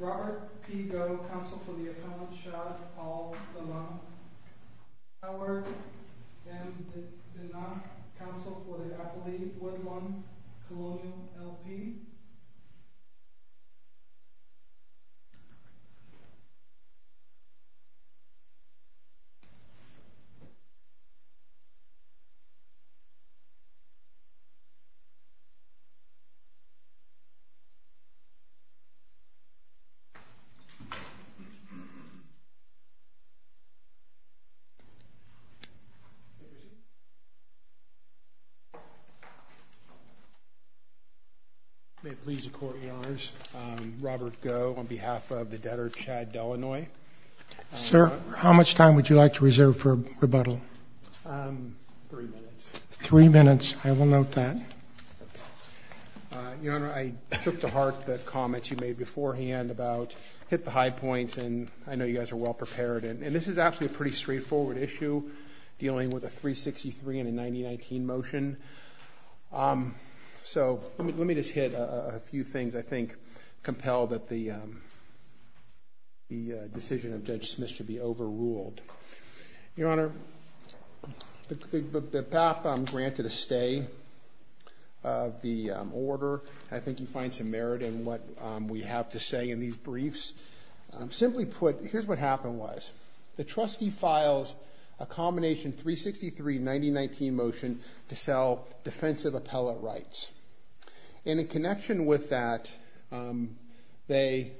Robert P. Goh, Counsel for the Appellant, Shad, Paul, Delannoy Howard M. Denach, Counsel for the Appellant, Woodlawn, Colonial, L.P. May it please the Court, Your Honors, Robert Goh on behalf of the debtor, Shad Delannoy. Sir, how much time would you like to reserve for rebuttal? Three minutes. Three minutes. I will note that. Your Honor, I took to heart the comments you made beforehand about hit the high points and I know you guys are well prepared. And this is actually a pretty straightforward issue dealing with a 363 and a 9019 motion. So let me just hit a few things I think compel that the decision of Judge Smith should be overruled. Your Honor, the path granted a stay of the order. I think you find some merit in what we have to say in these briefs. Simply put, here's what happened was the trustee files a combination 363, 9019 motion to sell defensive appellate rights. And in connection with that, they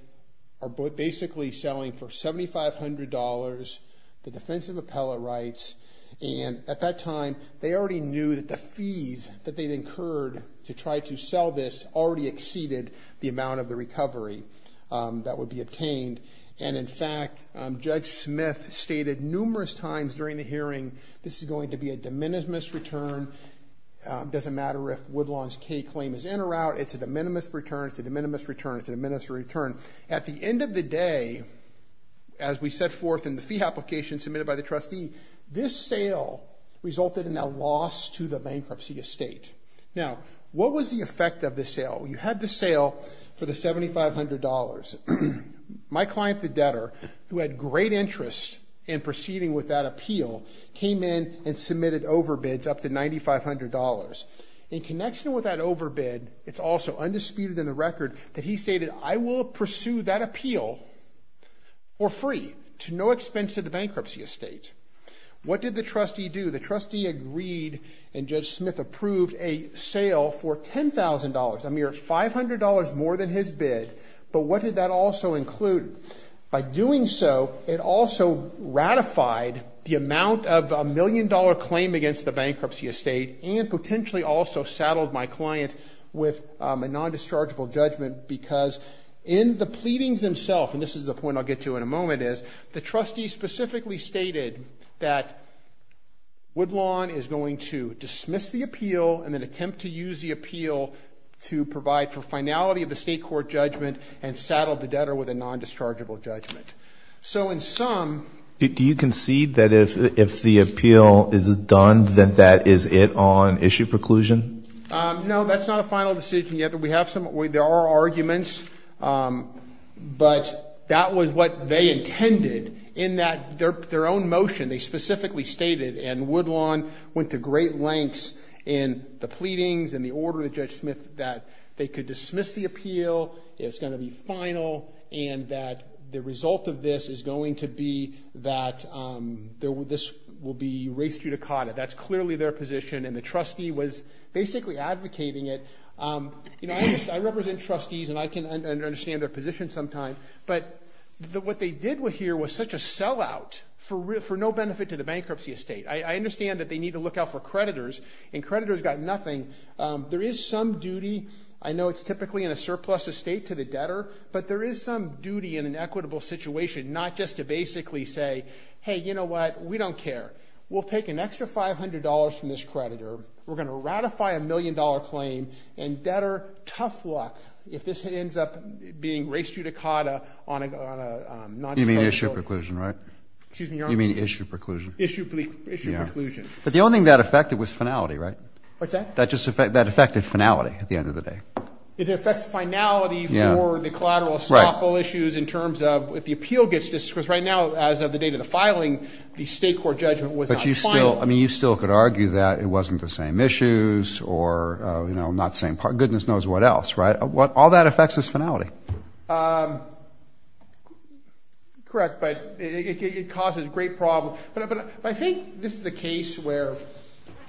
are basically selling for $7,500, the defensive appellate rights. And at that time, they already knew that the fees that they'd incurred to try to sell this already exceeded the amount of the recovery that would be obtained. And in fact, Judge Smith stated numerous times during the hearing, this is going to be a road-launched K-claim. It's in or out. It's a de minimis return. It's a de minimis return. It's a de minimis return. At the end of the day, as we set forth in the fee application submitted by the trustee, this sale resulted in a loss to the bankruptcy estate. Now, what was the effect of the sale? You had the sale for the $7,500. My client, the debtor, who had great interest in proceeding with that appeal, came in and submitted overbids up to $9,500. In connection with that overbid, it's also undisputed in the record that he stated, I will pursue that appeal for free, to no expense to the bankruptcy estate. What did the trustee do? The trustee agreed, and Judge Smith approved a sale for $10,000, a mere $500 more than his bid. But what did that also include? By doing so, it also ratified the amount of a million-dollar claim against the bankruptcy estate, and potentially also saddled my client with a non-dischargeable judgment, because in the pleadings themselves, and this is the point I'll get to in a moment, is the trustee specifically stated that Woodlawn is going to dismiss the appeal, and then attempt to use the appeal to provide for finality of the state court judgment, and saddled the debtor with a non-dischargeable judgment. So in sum... Do you concede that if the appeal is done, that that is it on issue preclusion? No, that's not a final decision yet. We have some... There are arguments, but that was what they intended, in that their own motion, they specifically stated, and Woodlawn went to great lengths in the pleadings and the order of Judge Smith that they could dismiss the appeal, it's going to be final, and that the result of this is going to be that this will be res judicata. That's clearly their position, and the trustee was basically advocating it. You know, I represent trustees, and I can understand their position sometimes, but what they did here was such a sellout for no benefit to the bankruptcy estate. I understand that they need to look out for creditors, and creditors got nothing. There is some duty, I know it's typically in a surplus estate to the debtor, but there is some duty in an equitable situation, not just to basically say, hey, you know what, we don't care. We'll take an extra $500 from this creditor, we're going to ratify a million-dollar claim, and debtor, tough luck if this ends up being res judicata on a non-dischargeable... You mean issue preclusion, right? Excuse me, your honor? You mean issue preclusion? Issue preclusion. But the only thing that affected was finality, right? What's that? That affected finality at the end of the day. It affects finality for the collateral estoppel issues in terms of, if the appeal gets dismissed, because right now, as of the date of the filing, the state court judgment was not final. But you still could argue that it wasn't the same issues, or not the same part, goodness knows what else, right? All that affects is finality. Correct, but it causes great problems. But I think this is the case where,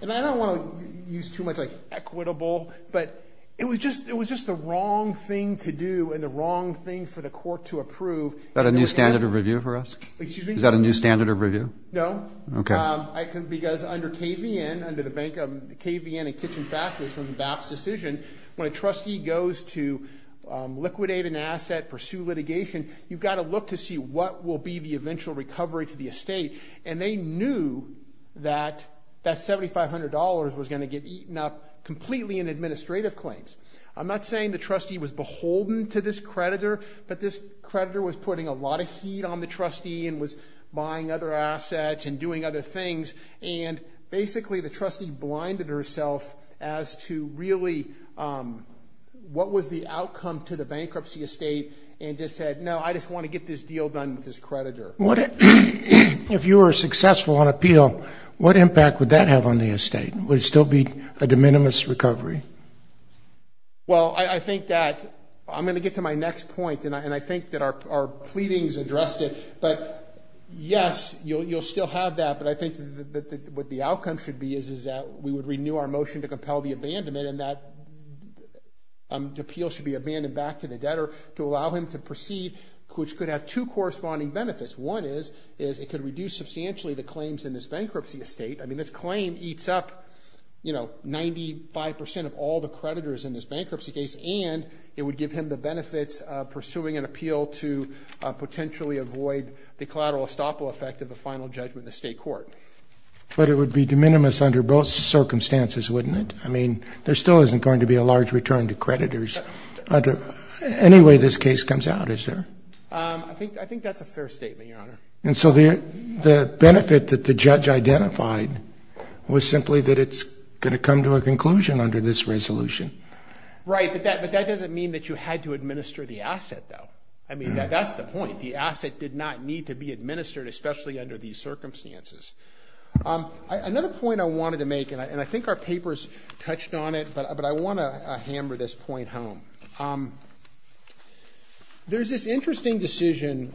and I don't want to use too much like equitable, but it was just the wrong thing to do, and the wrong thing for the court to approve. Is that a new standard of review for us? Excuse me? Is that a new standard of review? No. Okay. Because under KVN, under the KVN and Kitchen Factors, from BAP's decision, when a trustee goes to liquidate an asset, pursue litigation, you've got to look to see what will be the And they knew that that $7,500 was going to get eaten up completely in administrative claims. I'm not saying the trustee was beholden to this creditor, but this creditor was putting a lot of heat on the trustee and was buying other assets and doing other things. And basically, the trustee blinded herself as to really what was the outcome to the bankruptcy estate and just said, no, I just want to get this deal done with this creditor. If you were successful on appeal, what impact would that have on the estate? Would it still be a de minimis recovery? Well, I think that, I'm going to get to my next point, and I think that our pleadings addressed it, but yes, you'll still have that, but I think that what the outcome should be is that we would renew our motion to compel the abandonment and that the appeal should be abandoned back to the debtor to allow him to proceed, which could have two corresponding benefits. One is, is it could reduce substantially the claims in this bankruptcy estate. I mean, this claim eats up, you know, 95% of all the creditors in this bankruptcy case and it would give him the benefits pursuing an appeal to potentially avoid the collateral estoppel effect of a final judgment in the state court. But it would be de minimis under both circumstances, wouldn't it? I mean, there still isn't going to be a large return to creditors under any way this case comes out, is there? I think that's a fair statement, Your Honor. And so the benefit that the judge identified was simply that it's going to come to a conclusion under this resolution. Right. But that doesn't mean that you had to administer the asset, though. I mean, that's the point. The asset did not need to be administered, especially under these circumstances. Another point I wanted to make, and I think our papers touched on it, but I want to hammer this point home. There's this interesting decision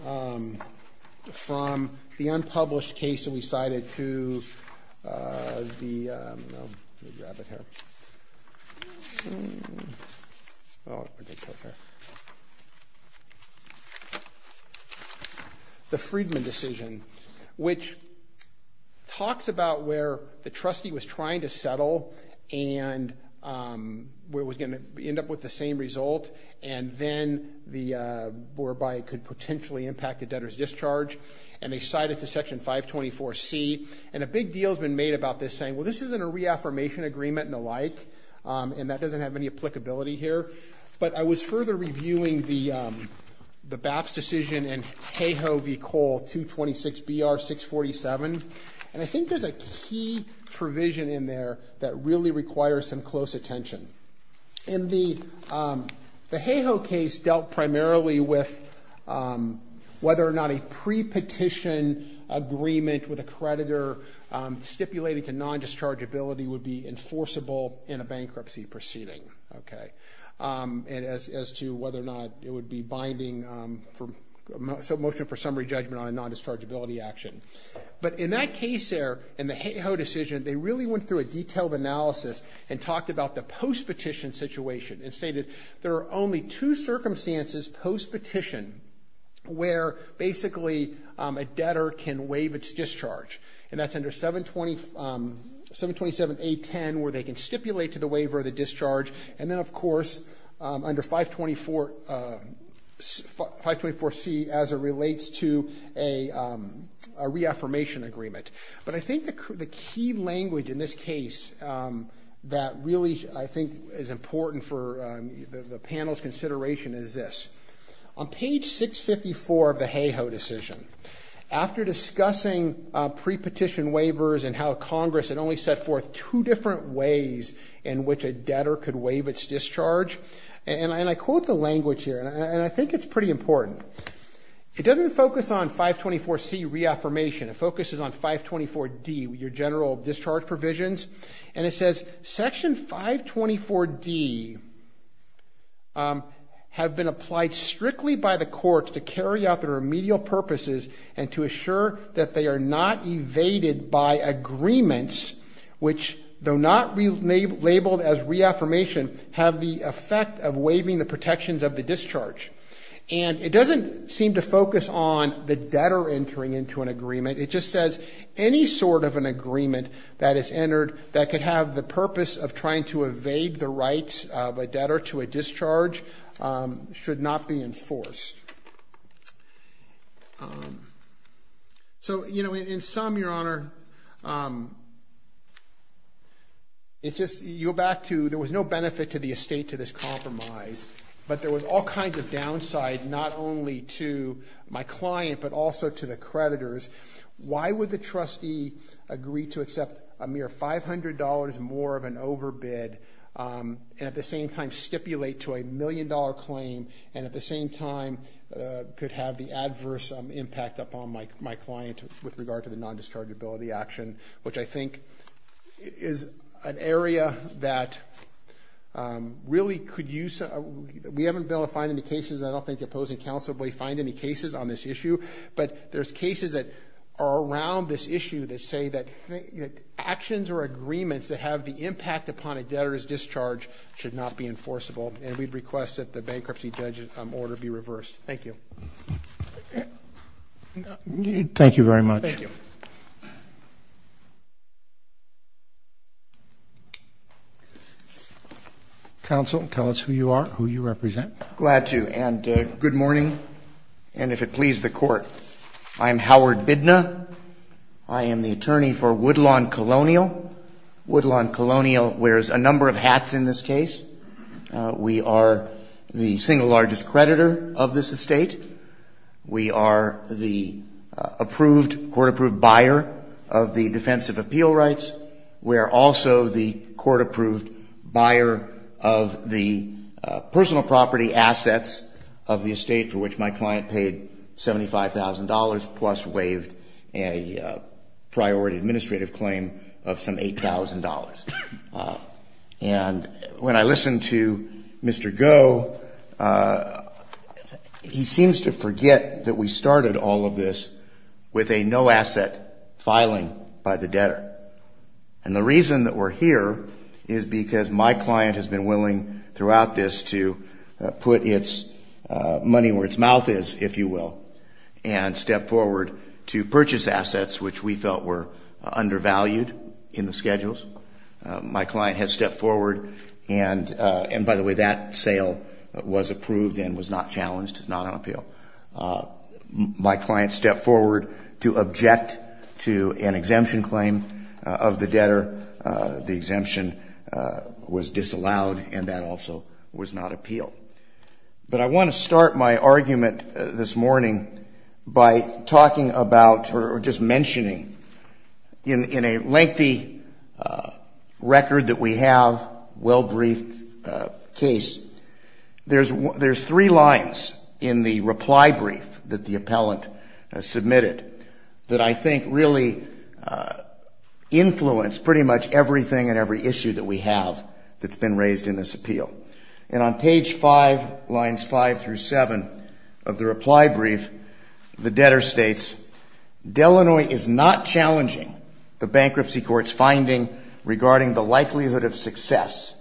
from the unpublished case that we cited to the, let me grab it here. Oh, I think it's right there. The Friedman decision, which talks about where the trustee was trying to settle and where it was going to end up with the same result, and then whereby it could potentially impact the debtor's discharge. And they cite it to Section 524C. And a big deal has been made about this, saying, well, this isn't a reaffirmation agreement and the like, and that doesn't have any applicability here. But I was further reviewing the BAPS decision in CAHO v. COLE 226-BR-647, and I think there's a key provision in there that really requires some close attention. In the CAHO case dealt primarily with whether or not a pre-petition agreement with a creditor stipulated to non-dischargeability would be enforceable in a bankruptcy proceeding, okay, as to whether or not it would be binding for motion for summary judgment on a non-dischargeability action. But in that case there, in the CAHO decision, they really went through a detailed analysis and talked about the post-petition situation and stated there are only two circumstances post-petition where basically a debtor can waive its discharge, and that's under 727A-10 where they can stipulate to the waiver of the discharge, and then of course under 524C as it relates to a reaffirmation agreement. But I think the key language in this case that really I think is important for the panel's consideration is this. On page 654 of the CAHO decision, after discussing pre-petition waivers and how Congress had only set forth two different ways in which a debtor could waive its discharge, and I quote the language here, and I think it's pretty important. It doesn't focus on 524C reaffirmation. It focuses on 524D, your general discharge provisions, and it says, Section 524D have been applied strictly by the courts to carry out their remedial purposes and to assure that they are not evaded by agreements which, though not labeled as reaffirmation, have the effect of waiving the protections of the discharge. And it doesn't seem to focus on the debtor entering into an agreement. It just says any sort of an agreement that is entered that could have the purpose of trying to evade the rights of a debtor to a discharge should not be enforced. So, you know, in sum, your Honor, it's just, you go back to, there was no benefit to the estate to this compromise, but there was all kinds of downside, not only to my client, but also to the creditors. Why would the trustee agree to accept a mere $500 more of an overbid, and at the same time could have the adverse impact upon my client with regard to the non-dischargeability action, which I think is an area that really could use, we haven't been able to find any cases, I don't think the opposing counsel will find any cases on this issue, but there's cases that are around this issue that say that actions or agreements that have the impact upon a debtor's discharge should not be enforceable, and we'd request that the bankruptcy order be reversed. Thank you. Thank you very much. Thank you. Counsel, tell us who you are, who you represent. Glad to, and good morning, and if it pleases the Court, I am Howard Bidna. I am the attorney for Woodlawn Colonial. Woodlawn Colonial wears a number of hats in this case. We are the single largest creditor of this estate. We are the approved, court-approved buyer of the defensive appeal rights. We are also the court-approved buyer of the personal property assets of the estate for which my client paid $75,000, plus waived a priority administrative claim of some $8,000. And when I listened to Mr. Goh, he seems to forget that we started all of this with a no-asset filing by the debtor. And the reason that we're here is because my client has been willing throughout this to put its money where its mouth is, if you will, and step forward to purchase assets which we felt were undervalued in the schedules. My client has stepped forward, and by the way, that sale was approved and was not challenged, it's not on appeal. My client stepped forward to object to an exemption claim of the debtor. The exemption was disallowed, and that also was not appealed. But I want to start my argument this morning by talking about, or just mentioning, in a lengthy record that we have, well-briefed case, there's three lines in the reply brief that the appellant submitted that I think really influence pretty much everything and every issue that we have that's been raised in this appeal. And on page five, lines five through seven of the reply brief, the debtor states, Delanoy is not challenging the bankruptcy court's finding regarding the likelihood of success,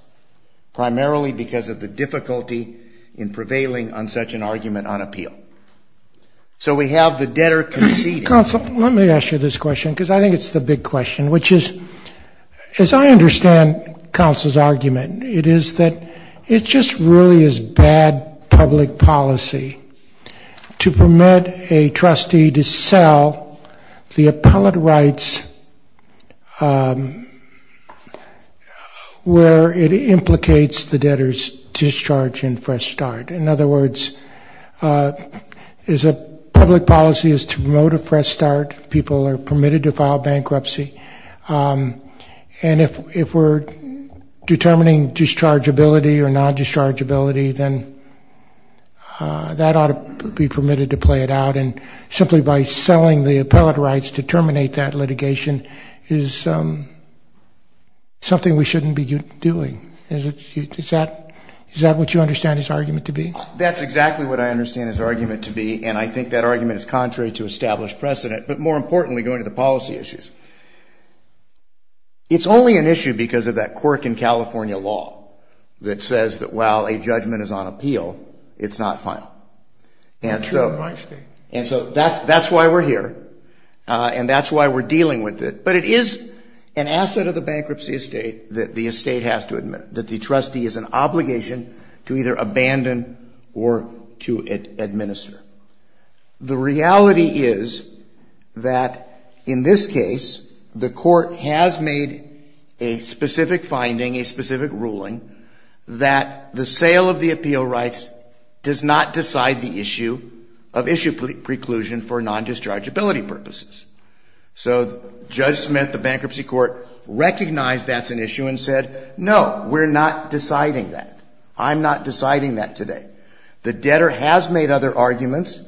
primarily because of the difficulty in prevailing on such an argument on appeal. So we have the debtor conceding. Counsel, let me ask you this question, because I think it's the big question, which is, as I understand counsel's argument, it is that it just really is bad public policy to permit a trustee to sell the appellate rights where it implicates the debtor's discharge and fresh start. In other words, public policy is to promote a fresh start. People are permitted to file bankruptcy. And if we're determining dischargeability or non-dischargeability, then that ought to be permitted to play it out. And simply by selling the appellate rights to terminate that litigation is something we shouldn't be doing. Is that what you understand his argument to be? That's exactly what I understand his argument to be, and I think that argument is contrary to established precedent. But more importantly, going to the policy issues, it's only an issue because of that quirk in California law that says that while a judgment is on appeal, it's not final. And so that's why we're here, and that's why we're dealing with it. But it is an asset of the bankruptcy estate that the estate has to admit, that the trustee is an obligation to either abandon or to administer. The reality is that in this case, the court has made a specific finding, a specific ruling, that the sale of the appeal rights does not decide the issue of issue preclusion for non-dischargeability purposes. So Judge Smith, the bankruptcy court, recognized that's an issue and said, no, we're not deciding that. I'm not deciding that today. The debtor has made other arguments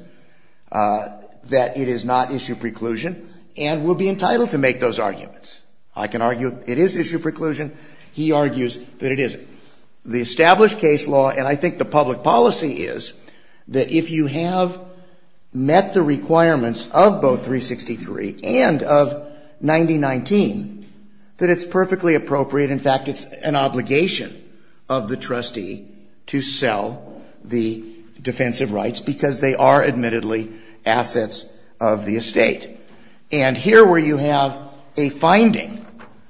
that it is not issue preclusion and will be entitled to make those arguments. I can argue it is issue preclusion. He argues that it isn't. The established case law, and I think the public policy is, that if you have met the requirements of both 363 and of 9019, that it's perfectly appropriate. In fact, it's an obligation of the trustee to sell the defensive rights because they are, admittedly, assets of the estate. And here where you have a finding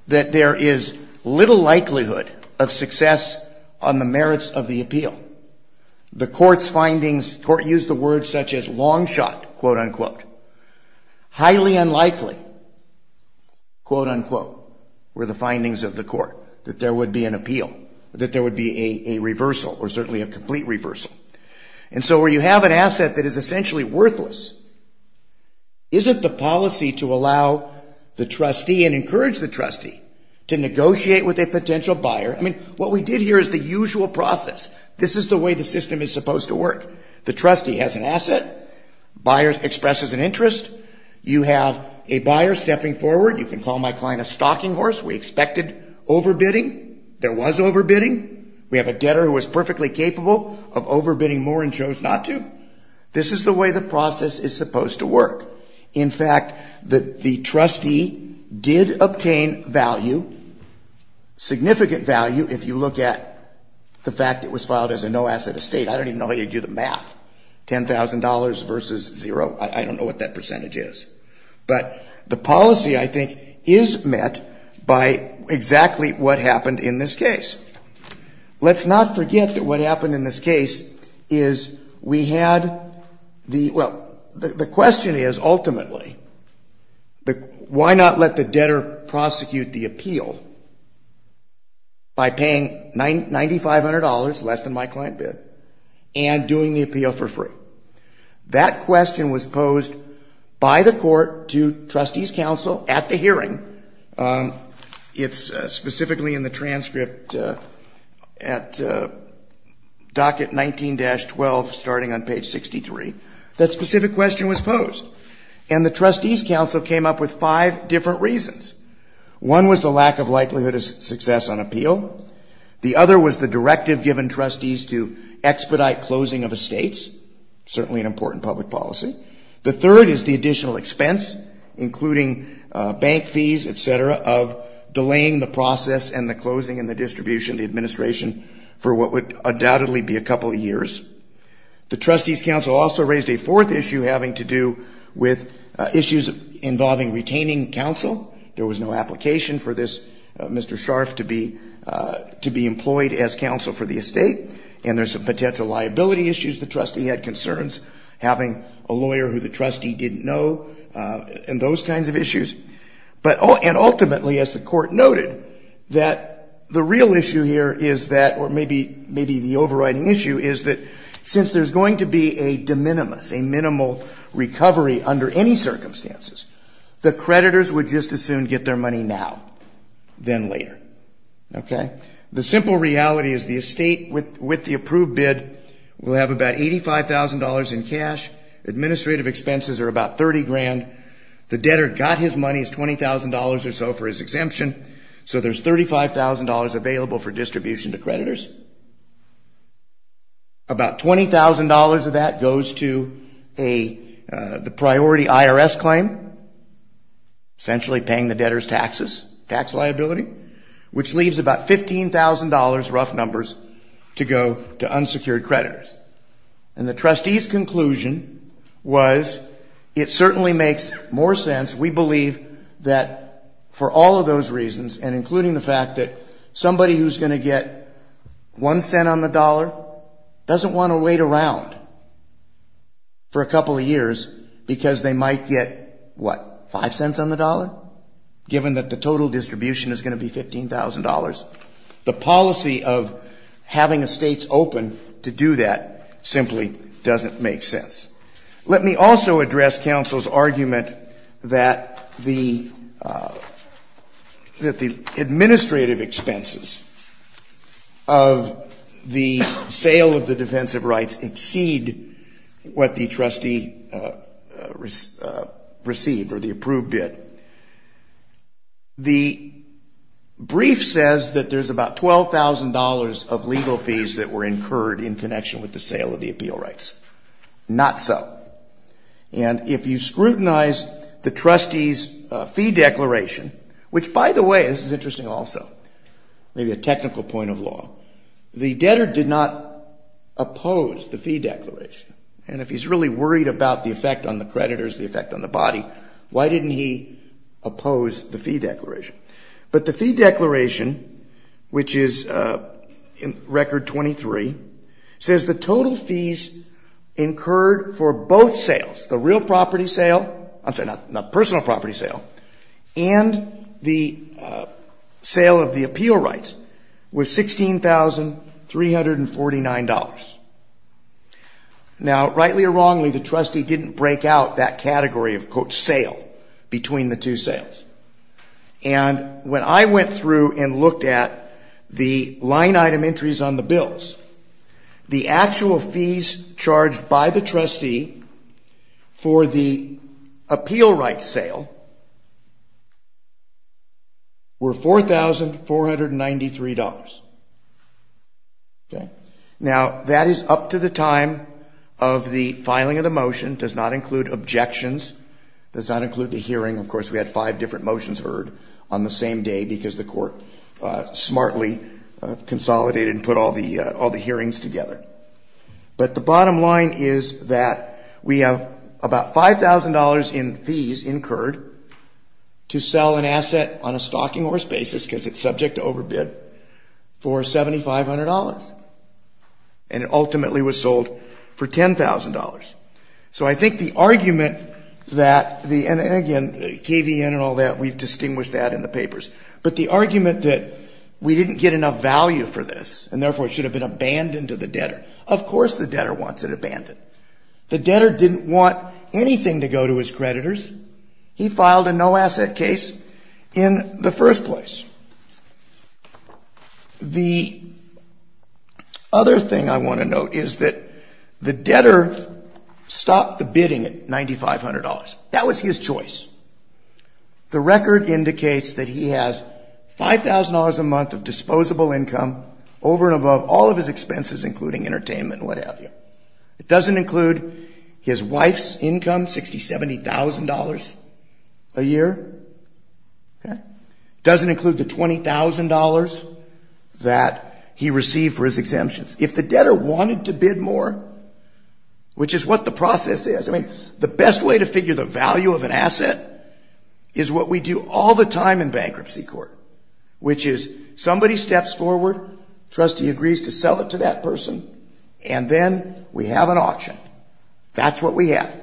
that there is little likelihood of success on the merits of the appeal, the court's findings, the court used the word such as long shot, quote, unquote. Highly unlikely, quote, unquote, were the findings of the court that there would be an appeal, that there would be a reversal or certainly a complete reversal. And so where you have an asset that is essentially worthless, isn't the policy to allow the trustee and encourage the trustee to negotiate with a potential buyer? I mean, what we did here is the usual process. This is the way the system is supposed to work. The trustee has an asset. Buyer expresses an interest. You have a buyer stepping forward. You can call my client a stalking horse. We expected overbidding. There was overbidding. We have a debtor who was perfectly capable of overbidding more and chose not to. This is the way the process is supposed to work. In fact, the trustee did obtain value, significant value, if you look at the fact it was I don't even know how you do the math. $10,000 versus zero, I don't know what that percentage is. But the policy, I think, is met by exactly what happened in this case. Let's not forget that what happened in this case is we had the, well, the question is ultimately, why not let the debtor prosecute the appeal by paying $9,500, less than my client bid, and doing the appeal for free? That question was posed by the court to trustees' counsel at the hearing. It's specifically in the transcript at docket 19-12, starting on page 63. That specific question was posed. And the trustees' counsel came up with five different reasons. One was the lack of likelihood of success on appeal. The other was the directive given trustees to expedite closing of estates, certainly an important public policy. The third is the additional expense, including bank fees, etc., of delaying the process and the closing and the distribution of the administration for what would undoubtedly be a couple of years. The trustees' counsel also raised a fourth issue having to do with issues involving retaining counsel. There was no application for this Mr. Scharf to be employed as counsel for the estate. And there's some potential liability issues the trustee had concerns having a lawyer who the trustee didn't know, and those kinds of issues. But ultimately, as the court noted, that the real issue here is that, or maybe the overriding issue is that since there's going to be a de minimis, a minimal recovery under any circumstances, the creditors would just as soon get their money now than later. The simple reality is the estate with the approved bid will have about $85,000 in cash. Administrative expenses are about $30,000. The debtor got his money, it's $20,000 or so for his exemption. So there's $35,000 available for distribution to creditors. About $20,000 of that goes to the priority IRS claim, essentially paying the debtor's taxes, tax liability, which leaves about $15,000, rough numbers, to go to unsecured creditors. And the trustees' conclusion was it certainly makes more sense, we believe, that for all of those reasons, and including the fact that somebody who's going to get one cent on the dollar doesn't want to wait around for a couple of years because they might get, what, five cents on the dollar, given that the total distribution is going to be $15,000? The policy of having estates open to do that simply doesn't make sense. Let me also address counsel's argument that the administrative expenses of the sale of the defensive rights exceed what the trustee received, or the approved bid. The brief says that there's about $12,000 of legal fees that were incurred in connection with the sale of the appeal rights. Not so. And if you scrutinize the trustee's fee declaration, which by the way, this is interesting also, maybe a technical point of law, the debtor did not oppose the fee declaration. And if he's really worried about the effect on the creditors, the effect on the body, why didn't he oppose the fee declaration? But the fee declaration, which is record 23, says the total fees incurred for both sales, the real property sale, I'm sorry, not personal property sale, and the sale of the appeal rights was $16,349. Now, rightly or wrongly, the trustee didn't break out that category of quote sale between the two sales. And when I went through and looked at the line item entries on the bills, the actual fees charged by the trustee for the appeal rights sale were $4,493. Now, that is up to the time of the filing of the motion, does not include objections, does not include the hearing. Of course, we had five different motions heard on the same day because the court smartly consolidated and put all the hearings together. But the bottom line is that we have about $5,000 in fees incurred to sell an asset on a stocking horse basis because it's subject to overbid for $7,500. And it ultimately was the argument that, and again, KVN and all that, we've distinguished that in the papers, but the argument that we didn't get enough value for this and therefore it should have been abandoned to the debtor. Of course, the debtor wants it abandoned. The debtor didn't want anything to go to his creditors. He filed a no asset case in the first place. The other thing I want to note is that the debtor stopped the bidding in 1994. The debtor bid $9,500. That was his choice. The record indicates that he has $5,000 a month of disposable income over and above all of his expenses, including entertainment and what have you. It doesn't include his wife's income, $60,000, $70,000 a year. It doesn't include the $20,000 that he received for his exemptions. If the debtor wanted to bid more, which is what the process is, I mean, the best way to figure the value of an asset is what we do all the time in bankruptcy court, which is somebody steps forward, trustee agrees to sell it to that person, and then we have an auction. That's what we have.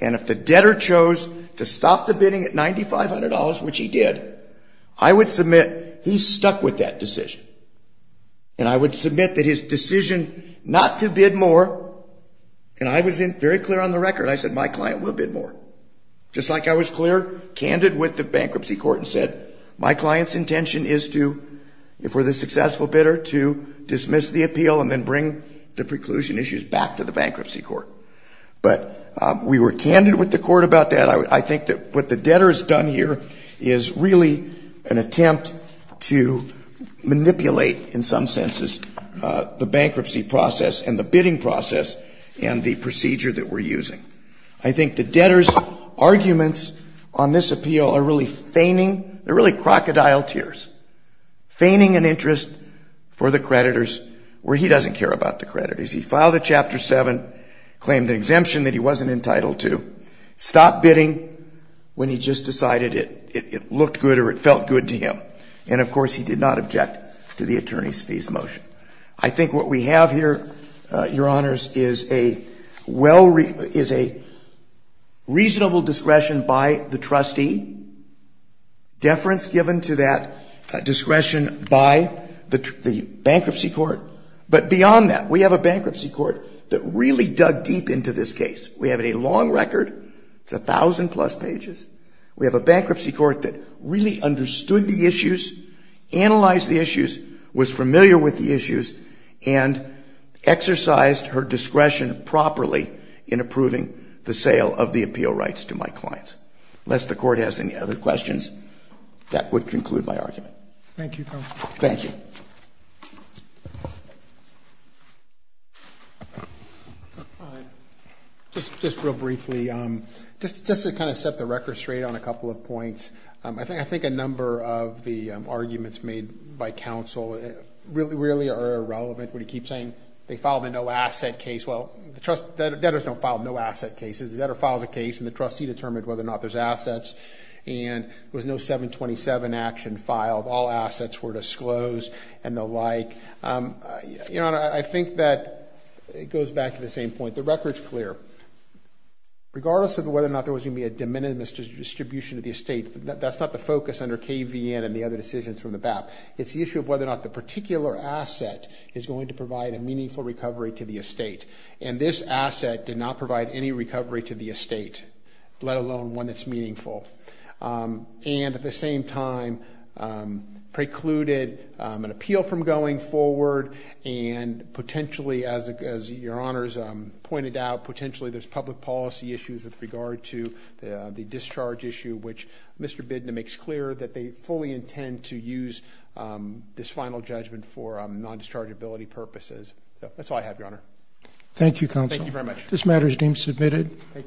And if the debtor chose to stop the bidding at $9,500, which he did, I would submit he stuck with that decision. And I would submit that his decision not to bid more, and I was very clear on the record. I said, my client will bid more. Just like I was clear, candid with the bankruptcy court and said, my client's intention is to, if we're the successful bidder, to dismiss the appeal and then bring the preclusion issues back to the bankruptcy court. But we were candid with the court about that. I think that what the debtor has done here is really an attempt to manipulate, in some senses, the bankruptcy process and the bidding process and the procedure that we're using. I think the debtor's arguments on this appeal are really feigning, they're really crocodile tears, feigning an interest for the creditors where he doesn't care about the creditors. He filed a Chapter 7, claimed an exemption that he wasn't entitled to, stopped bidding when he just decided it looked good or it felt good to him. And, of course, he did not object to the attorney's fees motion. I think what we have here, Your Honors, is a reasonable discretion by the trustee, deference given to that discretion by the bankruptcy court. But beyond that, we have a bankruptcy court that really dug deep into this case. We have a long record, it's a thousand plus pages. We have a bankruptcy court that really understood the issues, analyzed the issues, was familiar with the issues, and exercised her discretion properly in approving the sale of the appeal rights to my clients. Unless the Court has any other questions, that would conclude my argument. Thank you, Your Honor. Thank you. Thank you. Just real briefly, just to kind of set the record straight on a couple of points, I think a number of the arguments made by counsel really are irrelevant. When you keep saying they filed a no-asset case, well, the debtors don't file no-asset cases. The debtor files a case and the trustee determined whether or not there's assets and there was no 727 action filed. All assets were disclosed and the like. Your Honor, I think that it goes back to the same point. The record's clear. Regardless of whether or not there was going to be a de minimis distribution of the estate, that's not the focus under KVN and the other decisions from the BAP. It's the issue of whether or not the particular asset is going to provide a meaningful recovery to the estate. And this asset did not provide any recovery to the estate, let alone one that's meaningful. And at the same time, precluded an appeal from going forward and potentially, as Your Honor's pointed out, potentially there's public policy issues with regard to the discharge issue, which Mr. Bidna makes clear that they fully intend to use this final judgment for non-dischargeability purposes. That's all I have, Your Honor. Thank you, counsel. Thank you very much. This matter is deemed submitted.